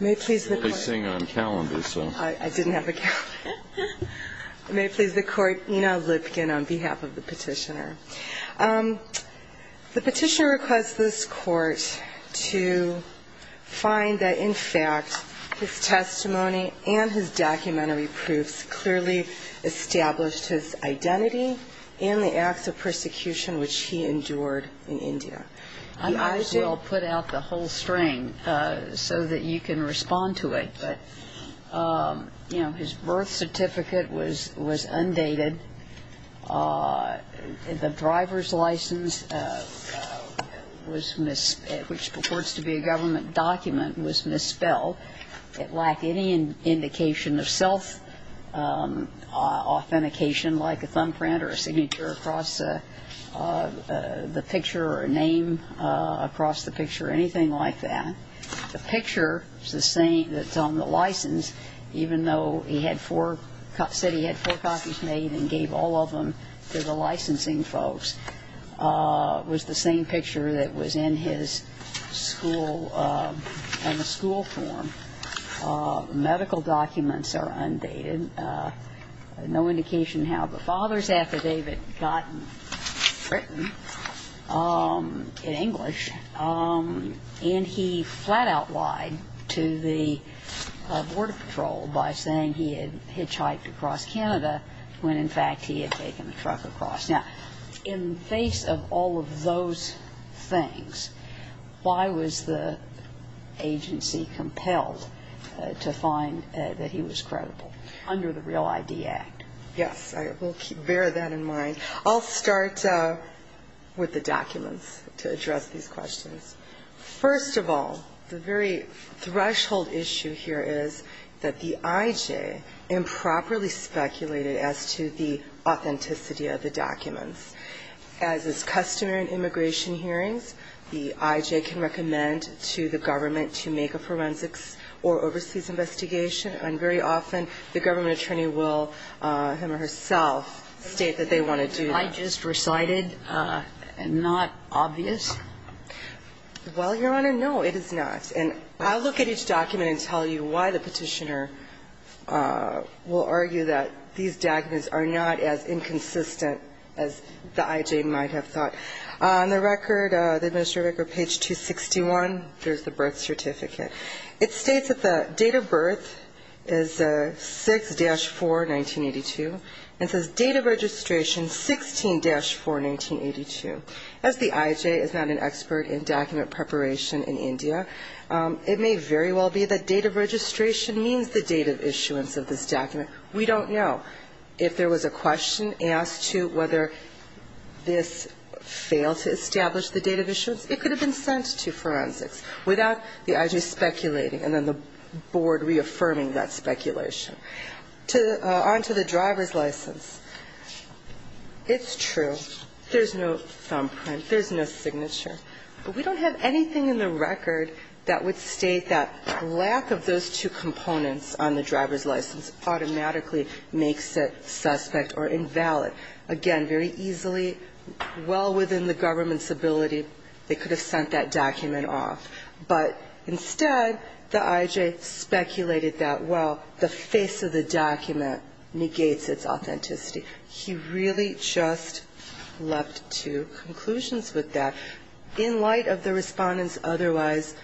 I didn't have a calendar. May it please the Court, Ina Lipkin on behalf of the Petitioner. The Petitioner requests this Court to find that in fact his testimony and his documentary proofs clearly established his identity and the acts of persecution which he endured in India. I might as well put out the whole string so that you can respond to it. But, you know, his birth certificate was undated. The driver's license, which purports to be a government document, was misspelled. It lacked any indication of self-authentication like a thumbprint or a signature across the picture or a name across the picture or anything like that. The picture that's on the license, even though he said he had four copies made and gave all of them to the licensing folks, was the same picture that was in his school, in the school form. Medical documents are undated. No indication how the father's affidavit got written in English. And he flat-out lied to the Border Patrol by saying he had hitchhiked across Canada when, in fact, he had taken a truck across. Now, in the face of all of those things, why was the agency compelled to find that he was credible under the Real ID Act? Yes. I will bear that in mind. I'll start with the documents to address these questions. First of all, the very threshold issue here is that the I.J. improperly speculated as to the authenticity of the documents. As is customary in immigration hearings, the I.J. can recommend to the government to make a forensics or overseas investigation, and very often the government attorney will, him or herself, state that they want to do that. I just recited, not obvious? Well, Your Honor, no, it is not. And I'll look at each document and tell you why the petitioner will argue that these documents are not as inconsistent as the I.J. might have thought. On the record, the administrative record, page 261, there's the birth certificate. It states that the date of birth is 6-4, 1982, and says date of registration 16-4, 1982. As the I.J. is not an expert in document preparation in India, it may very well be that date of registration means the date of issuance of this document. We don't know. If there was a question asked to whether this failed to establish the date of issuance, it could have been sent to forensics. Without the I.J. speculating and then the board reaffirming that speculation. On to the driver's license, it's true. There's no thumbprint. There's no signature. But we don't have anything in the record that would state that lack of those two components on the driver's license automatically makes it suspect or invalid. Again, very easily, well within the government's ability, they could have sent that document off. But instead, the I.J. speculated that, well, the face of the document negates its authenticity. He really just left two conclusions with that. In light of the Respondent's otherwise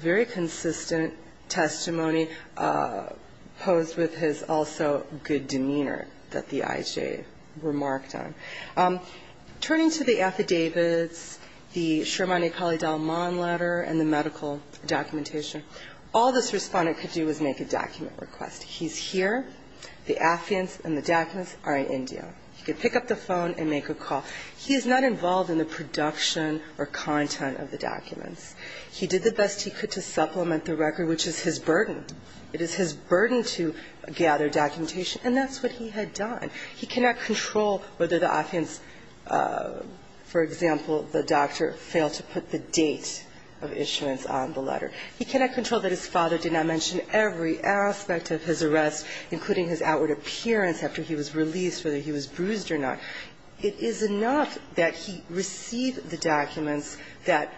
very consistent testimony, posed with his also good demeanor that the I.J. remarked on. Turning to the affidavits, the Sharmani-Kali Dalman letter and the medical documentation, all this Respondent could do was make a document request. He's here. The affidavits and the documents are in India. He could pick up the phone and make a call. He is not involved in the production or content of the documents. He did the best he could to supplement the record, which is his burden. It is his burden to gather documentation. And that's what he had done. He cannot control whether the offense, for example, the doctor, failed to put the date of issuance on the letter. He cannot control that his father did not mention every aspect of his arrest, including his outward appearance after he was released, whether he was bruised or not. It is enough that he received the documents that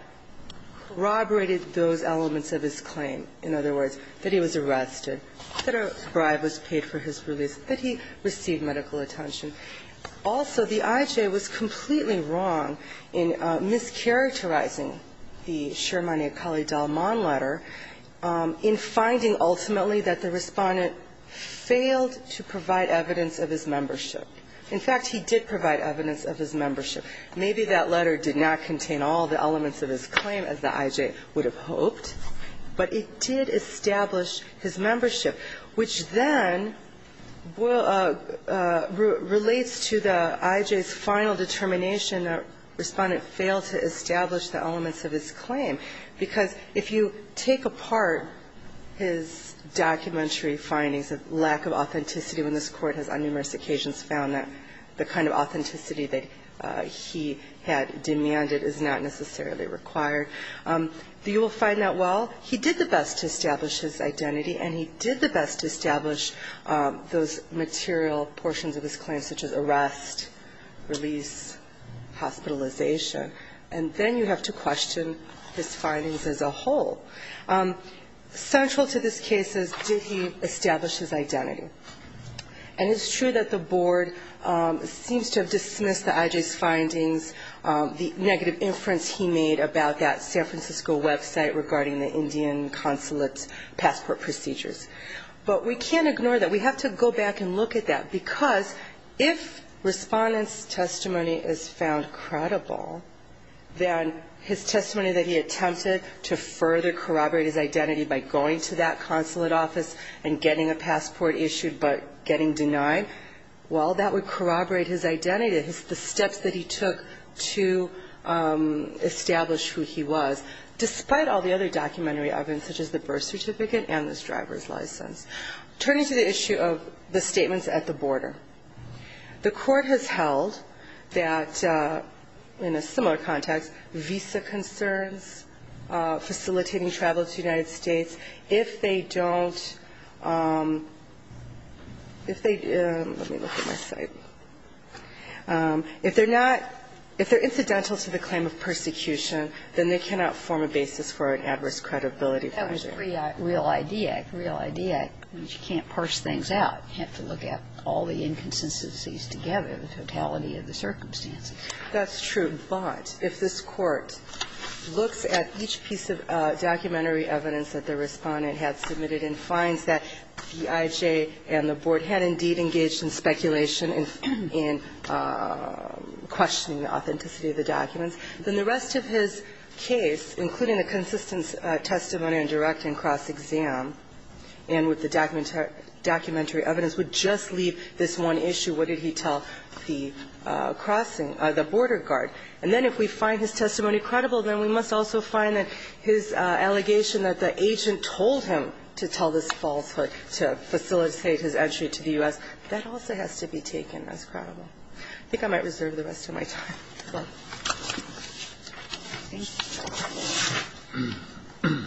corroborated those elements of his claim. In other words, that he was arrested, that a bribe was paid for his release, that he received medical attention. Also, the I.J. was completely wrong in mischaracterizing the Sharmani-Kali Dalman letter in finding ultimately that the Respondent failed to provide evidence of his membership. In fact, he did provide evidence of his membership. Maybe that letter did not contain all the elements of his claim as the I.J. would have hoped, but it did establish his membership, which then relates to the I.J.'s final determination that Respondent failed to establish the elements of his claim, because if you take apart his documentary findings of lack of authenticity, when this Court has on numerous occasions found that the kind of authenticity that he had demanded is not necessarily required, you will find that, well, he did the best to establish his identity, and he did the best to establish those material portions of his claim, such as arrest, release, hospitalization, and then you have to question his findings as a whole. Central to this case is, did he establish his identity? And it's true that the Board seems to have dismissed the I.J.'s findings, the negative inference he made about that San Francisco website regarding the Indian consulate's passport procedures. But we can't ignore that. We have to go back and look at that, because if Respondent's testimony is found credible, then his testimony that he attempted to further corroborate his identity by going to that consulate office and getting a passport issued but getting denied, well, that would corroborate his identity, the steps that he took to establish who he was, despite all the other documentary evidence, such as the birth certificate and this driver's license. Turning to the issue of the statements at the border, the Court has held that, in a similar context, visa concerns facilitating travel to the United States, if they don't – if they – let me look at my site. If they're not – if they're incidental to the claim of persecution, then they cannot form a basis for an adverse credibility measure. And that's true. But if this Court looks at each piece of documentary evidence that the Respondent had submitted and finds that the IJ and the Board had indeed engaged in speculation in questioning the authenticity of the documents, then the rest of his case, including and with the documentary evidence, would just leave this one issue. What did he tell the crossing – the border guard? And then if we find his testimony credible, then we must also find that his allegation that the agent told him to tell this falsehood to facilitate his entry to the U.S., that also has to be taken as credible. I think I might reserve the rest of my time. Thank you.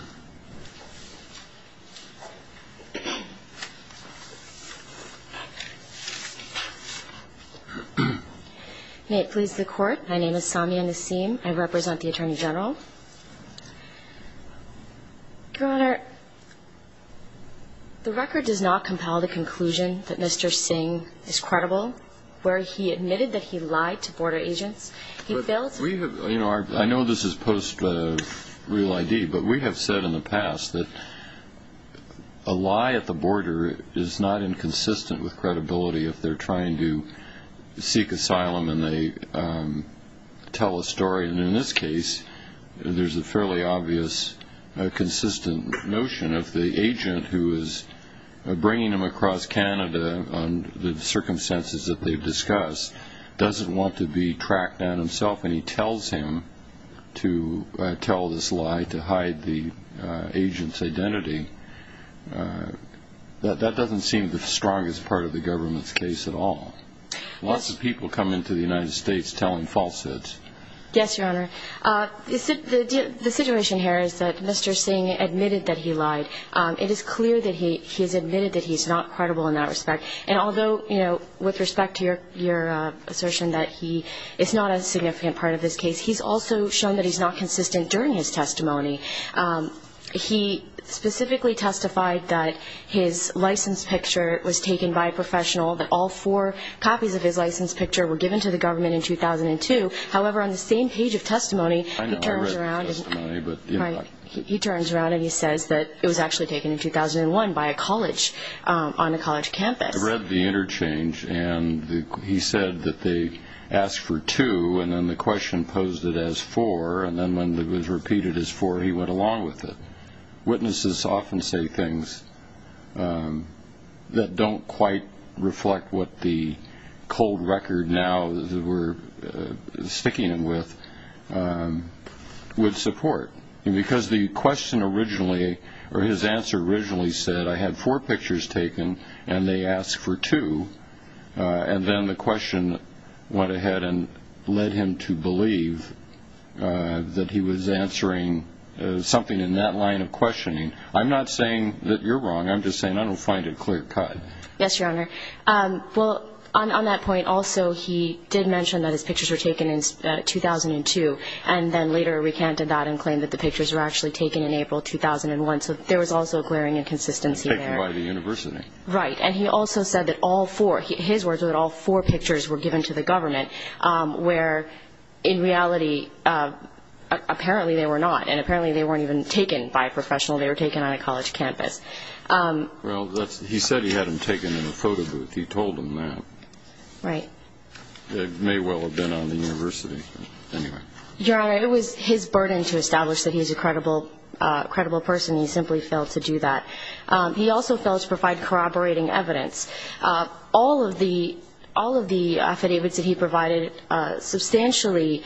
May it please the Court, my name is Samia Nasim. I represent the Attorney General. Your Honor, the record does not compel the conclusion that Mr. Singh is credible, where he admitted that he lied to border agents. I know this is post-real ID, but we have said in the past that a lie at the border is not inconsistent with credibility if they're trying to seek asylum and they tell a story. And in this case, there's a fairly obvious, consistent notion of the agent who is bringing him across Canada under the circumstances that they've discussed, doesn't want to be tracked down himself and he tells him to tell this lie to hide the agent's identity. That doesn't seem the strongest part of the government's case at all. Lots of people come into the United States telling falsehoods. Yes, Your Honor. The situation here is that Mr. Singh admitted that he lied. It is clear that he has admitted that he's not credible in that respect. And although, you know, with respect to your assertion that he is not a significant part of this case, he's also shown that he's not consistent during his testimony. He specifically testified that his license picture was taken by a professional, that all four copies of his license picture were given to the government in 2002. However, on the same page of testimony, he turns around and he says that it was actually a lie. It was actually taken in 2001 by a college on a college campus. I read the interchange and he said that they asked for two and then the question posed it as four and then when it was repeated as four, he went along with it. Witnesses often say things that don't quite reflect what the cold record now that we're sticking him with would support. Because the question originally or his answer originally said I had four pictures taken and they asked for two and then the question went ahead and led him to believe that he was answering something in that line of questioning. I'm not saying that you're wrong. I'm just saying I don't find it clear cut. Yes, Your Honor. Well, on that point also, he did mention that his pictures were taken in 2002 and then later recanted that and claimed that the pictures were actually taken in April 2001. So there was also a glaring inconsistency there. Taken by the university. Right. And he also said that all four, his words were that all four pictures were given to the government, where in reality apparently they were not and apparently they weren't even taken by a professional. They were taken on a college campus. Well, he said he had them taken in a photo booth. He told them that. Right. It may well have been on the university. Anyway. Your Honor, it was his burden to establish that he's a credible person. He simply failed to do that. He also failed to provide corroborating evidence. All of the affidavits that he provided substantially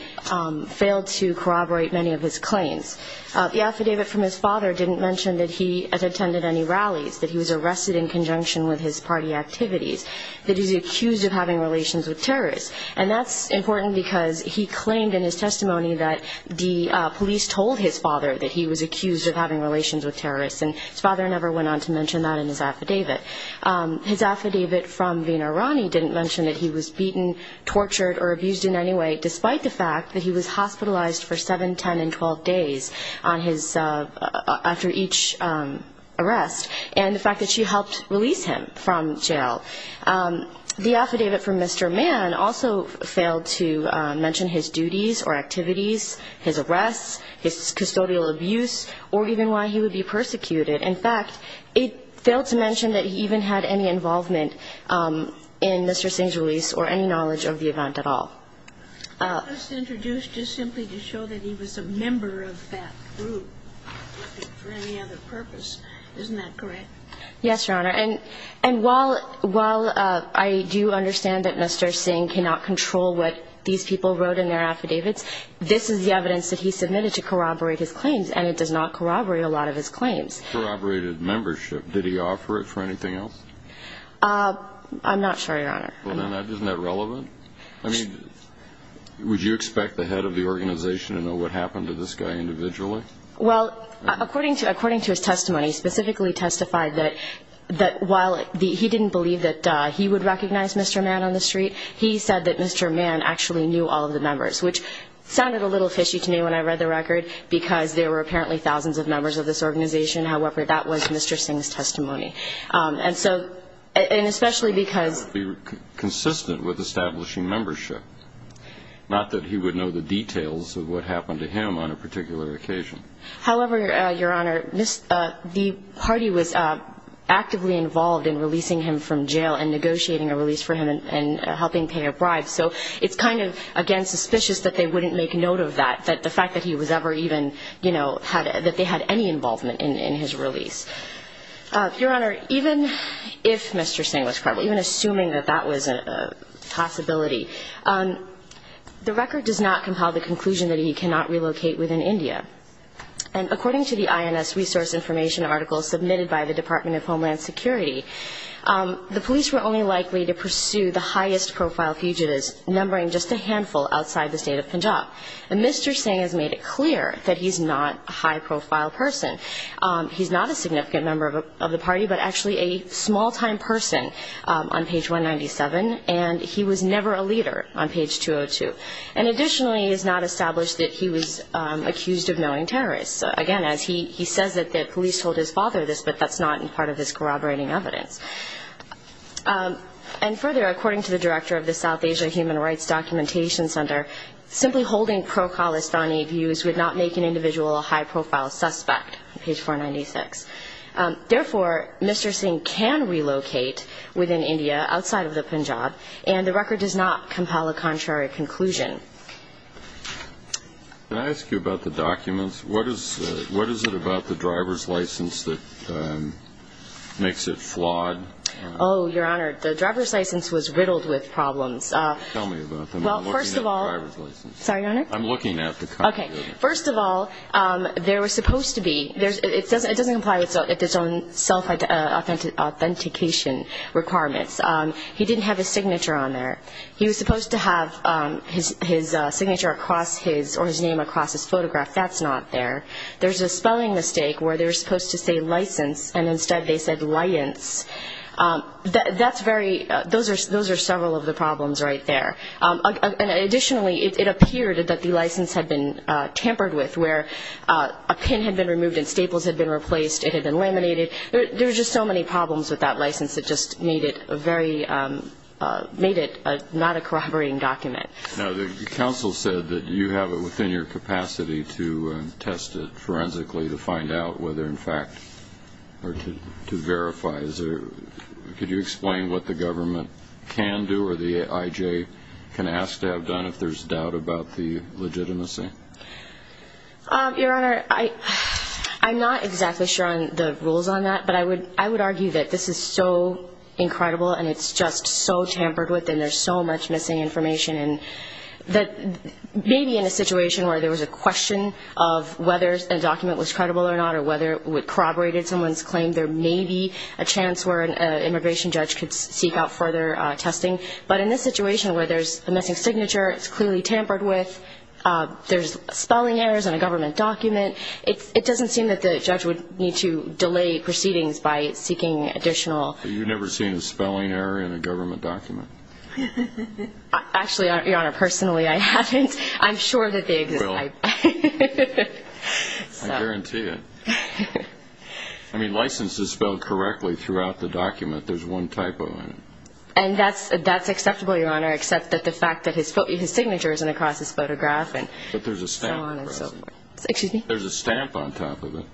failed to corroborate many of his claims. The affidavit from his father didn't mention that he attended any rallies, that he was arrested in conjunction with his party activities, that he's accused of having relations with terrorists. And that's important because he claimed in his testimony that the police told his father that he was accused of having relations with terrorists, and his father never went on to mention that in his affidavit. His affidavit from Veena Rani didn't mention that he was beaten, tortured, or abused in any way, despite the fact that he was hospitalized for 7, 10, and 12 days after each arrest, and the fact that she helped release him from jail. The affidavit from Mr. Mann also failed to mention his duties or activities, his arrests, his custodial abuse, or even why he would be persecuted. In fact, it failed to mention that he even had any involvement in Mr. Singh's release or any knowledge of the event at all. I just introduced just simply to show that he was a member of that group for any other purpose. Isn't that correct? Yes, Your Honor. And while I do understand that Mr. Singh cannot control what these people wrote in their affidavits, this is the evidence that he submitted to corroborate his claims, and it does not corroborate a lot of his claims. Corroborated membership. Did he offer it for anything else? I'm not sure, Your Honor. Isn't that relevant? I mean, would you expect the head of the organization to know what happened to this guy individually? Well, according to his testimony, he specifically testified that while he didn't believe that he would recognize Mr. Mann on the street, he said that Mr. Mann actually knew all of the members, which sounded a little fishy to me when I read the record because there were apparently thousands of members of this organization. However, that was Mr. Singh's testimony. And so, and especially because he was consistent with establishing membership, not that he would know the details of what happened to him on a particular occasion. However, Your Honor, the party was actively involved in releasing him from jail and negotiating a release for him and helping pay a bribe. So it's kind of, again, suspicious that they wouldn't make note of that, that the fact that he was ever even, you know, that they had any involvement in his release. Your Honor, even if Mr. Singh was criminal, even assuming that that was a possibility, the record does not compile the conclusion that he cannot relocate within India. And according to the INS resource information article submitted by the Department of Homeland Security, the police were only likely to pursue the highest profile fugitives, numbering just a handful outside the state of Punjab. And Mr. Singh has made it clear that he's not a high profile person. He's not a significant member of the party, but actually a small-time person on page 197. And he was never a leader on page 202. And additionally, it is not established that he was accused of knowing terrorists. Again, he says that the police told his father this, but that's not part of his corroborating evidence. And further, according to the director of the South Asia Human Rights Documentation Center, simply holding pro-Khalistani views would not make an individual a high profile suspect. Page 496. Therefore, Mr. Singh can relocate within India, outside of the Punjab, and the record does not compile a contrary conclusion. Can I ask you about the documents? What is it about the driver's license that makes it flawed? Oh, Your Honor, the driver's license was riddled with problems. Tell me about them. Well, first of all ---- I'm looking at the driver's license. Sorry, Your Honor? I'm looking at the copy of it. First of all, there was supposed to be ---- it doesn't comply with his own self-authentication requirements. He didn't have his signature on there. He was supposed to have his signature across his or his name across his photograph. That's not there. There's a spelling mistake where they're supposed to say license, and instead they said liance. That's very ---- those are several of the problems right there. Additionally, it appeared that the license had been tampered with, where a pin had been removed and staples had been replaced. It had been laminated. There were just so many problems with that license. It just made it a very ---- made it not a corroborating document. Now, the counsel said that you have it within your capacity to test it forensically, to find out whether, in fact, or to verify. Could you explain what the government can do or the IJ can ask to have done if there's doubt about the legitimacy? Your Honor, I'm not exactly sure on the rules on that, but I would argue that this is so incredible and it's just so tampered with and there's so much missing information. Maybe in a situation where there was a question of whether a document was credible or not or a claim there may be a chance where an immigration judge could seek out further testing, but in this situation where there's a missing signature, it's clearly tampered with, there's spelling errors in a government document, it doesn't seem that the judge would need to delay proceedings by seeking additional. You've never seen a spelling error in a government document? Actually, Your Honor, personally I haven't. I'm sure that they exist. You will. I guarantee it. I mean, license is spelled correctly throughout the document. There's one typo in it. And that's acceptable, Your Honor, except that the fact that his signature isn't across his photograph and so on and so forth. But there's a stamp across it. Excuse me? There's a stamp on top of it.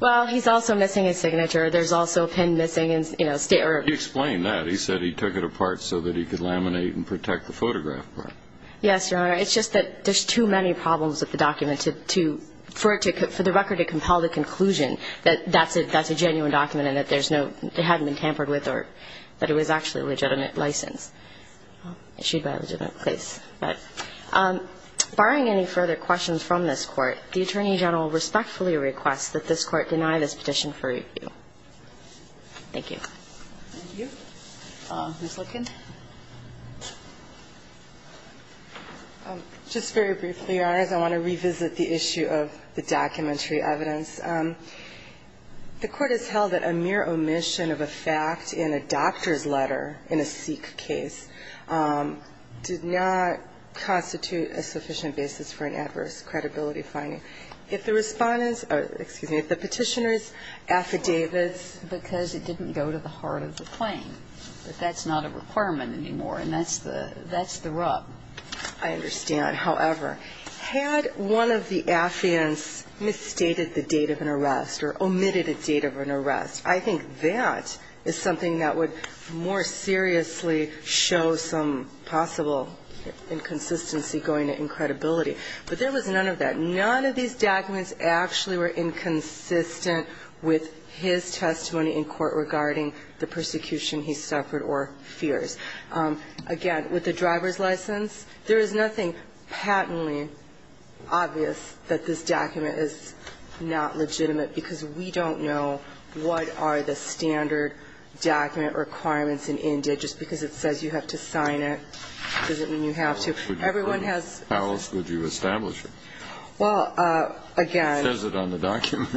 Well, he's also missing his signature. There's also a pin missing. You explained that. He said he took it apart so that he could laminate and protect the photograph part. Yes, Your Honor. It's just that there's too many problems with the document. I think it's important for the record to compel the conclusion that that's a genuine document and that there's no they hadn't been tampered with or that it was actually a legitimate license issued by a legitimate place. But barring any further questions from this Court, the Attorney General respectfully requests that this Court deny this petition for review. Thank you. Thank you. Ms. Licken? Just very briefly, Your Honors. I want to revisit the issue of the documentary evidence. The Court has held that a mere omission of a fact in a doctor's letter in a Sikh case did not constitute a sufficient basis for an adverse credibility finding. If the Respondent's or, excuse me, if the Petitioner's affidavits. Because it didn't go to the heart of the claim. But that's not a requirement anymore. And that's the rub. I understand. However, had one of the affidavits misstated the date of an arrest or omitted a date of an arrest, I think that is something that would more seriously show some possible inconsistency going to incredibility. But there was none of that. None of these documents actually were inconsistent with his testimony in court regarding the persecution he suffered or fears. Again, with the driver's license, there is nothing patently obvious that this document is not legitimate because we don't know what are the standard document requirements in India. Just because it says you have to sign it doesn't mean you have to. Everyone has. How else would you establish it? Well, again. It says it on the document.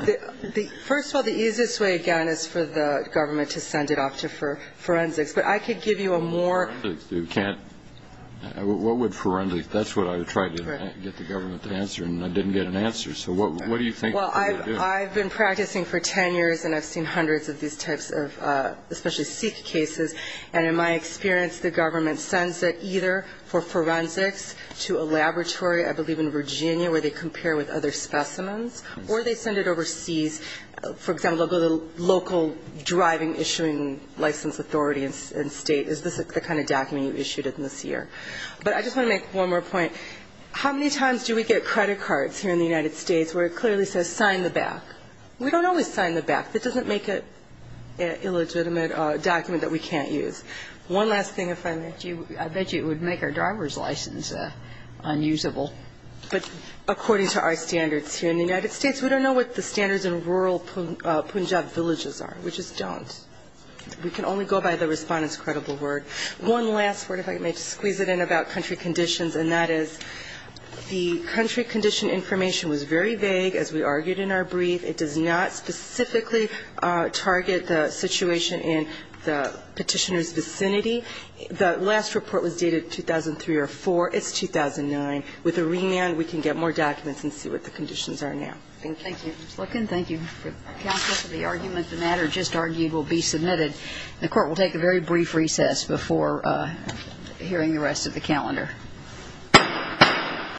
First of all, the easiest way, again, is for the government to send it off to forensics. But I could give you a more. What would forensics do? What would forensics do? That's what I tried to get the government to answer, and I didn't get an answer. So what do you think they would do? Well, I've been practicing for ten years, and I've seen hundreds of these types of, especially Sikh cases. And in my experience, the government sends it either for forensics to a laboratory, I believe in Virginia, where they compare with other specimens, or they send it overseas. For example, they'll go to the local driving issuing license authority in state. Is this the kind of document you issued in this year? But I just want to make one more point. How many times do we get credit cards here in the United States where it clearly says sign the back? We don't always sign the back. That doesn't make it an illegitimate document that we can't use. One last thing, if I may. I bet you it would make our driver's license unusable. But according to our standards here in the United States, we don't know what the standards in rural Punjab villages are. We just don't. We can only go by the Respondent's credible word. One last word, if I may, to squeeze it in about country conditions, and that is the country condition information was very vague, as we argued in our brief. The last report was dated 2003 or 2004. It's 2009. With a remand, we can get more documents and see what the conditions are now. Thank you. Thank you, Ms. Lookin. Thank you, counsel, for the argument. The matter just argued will be submitted. Thank you. Thank you.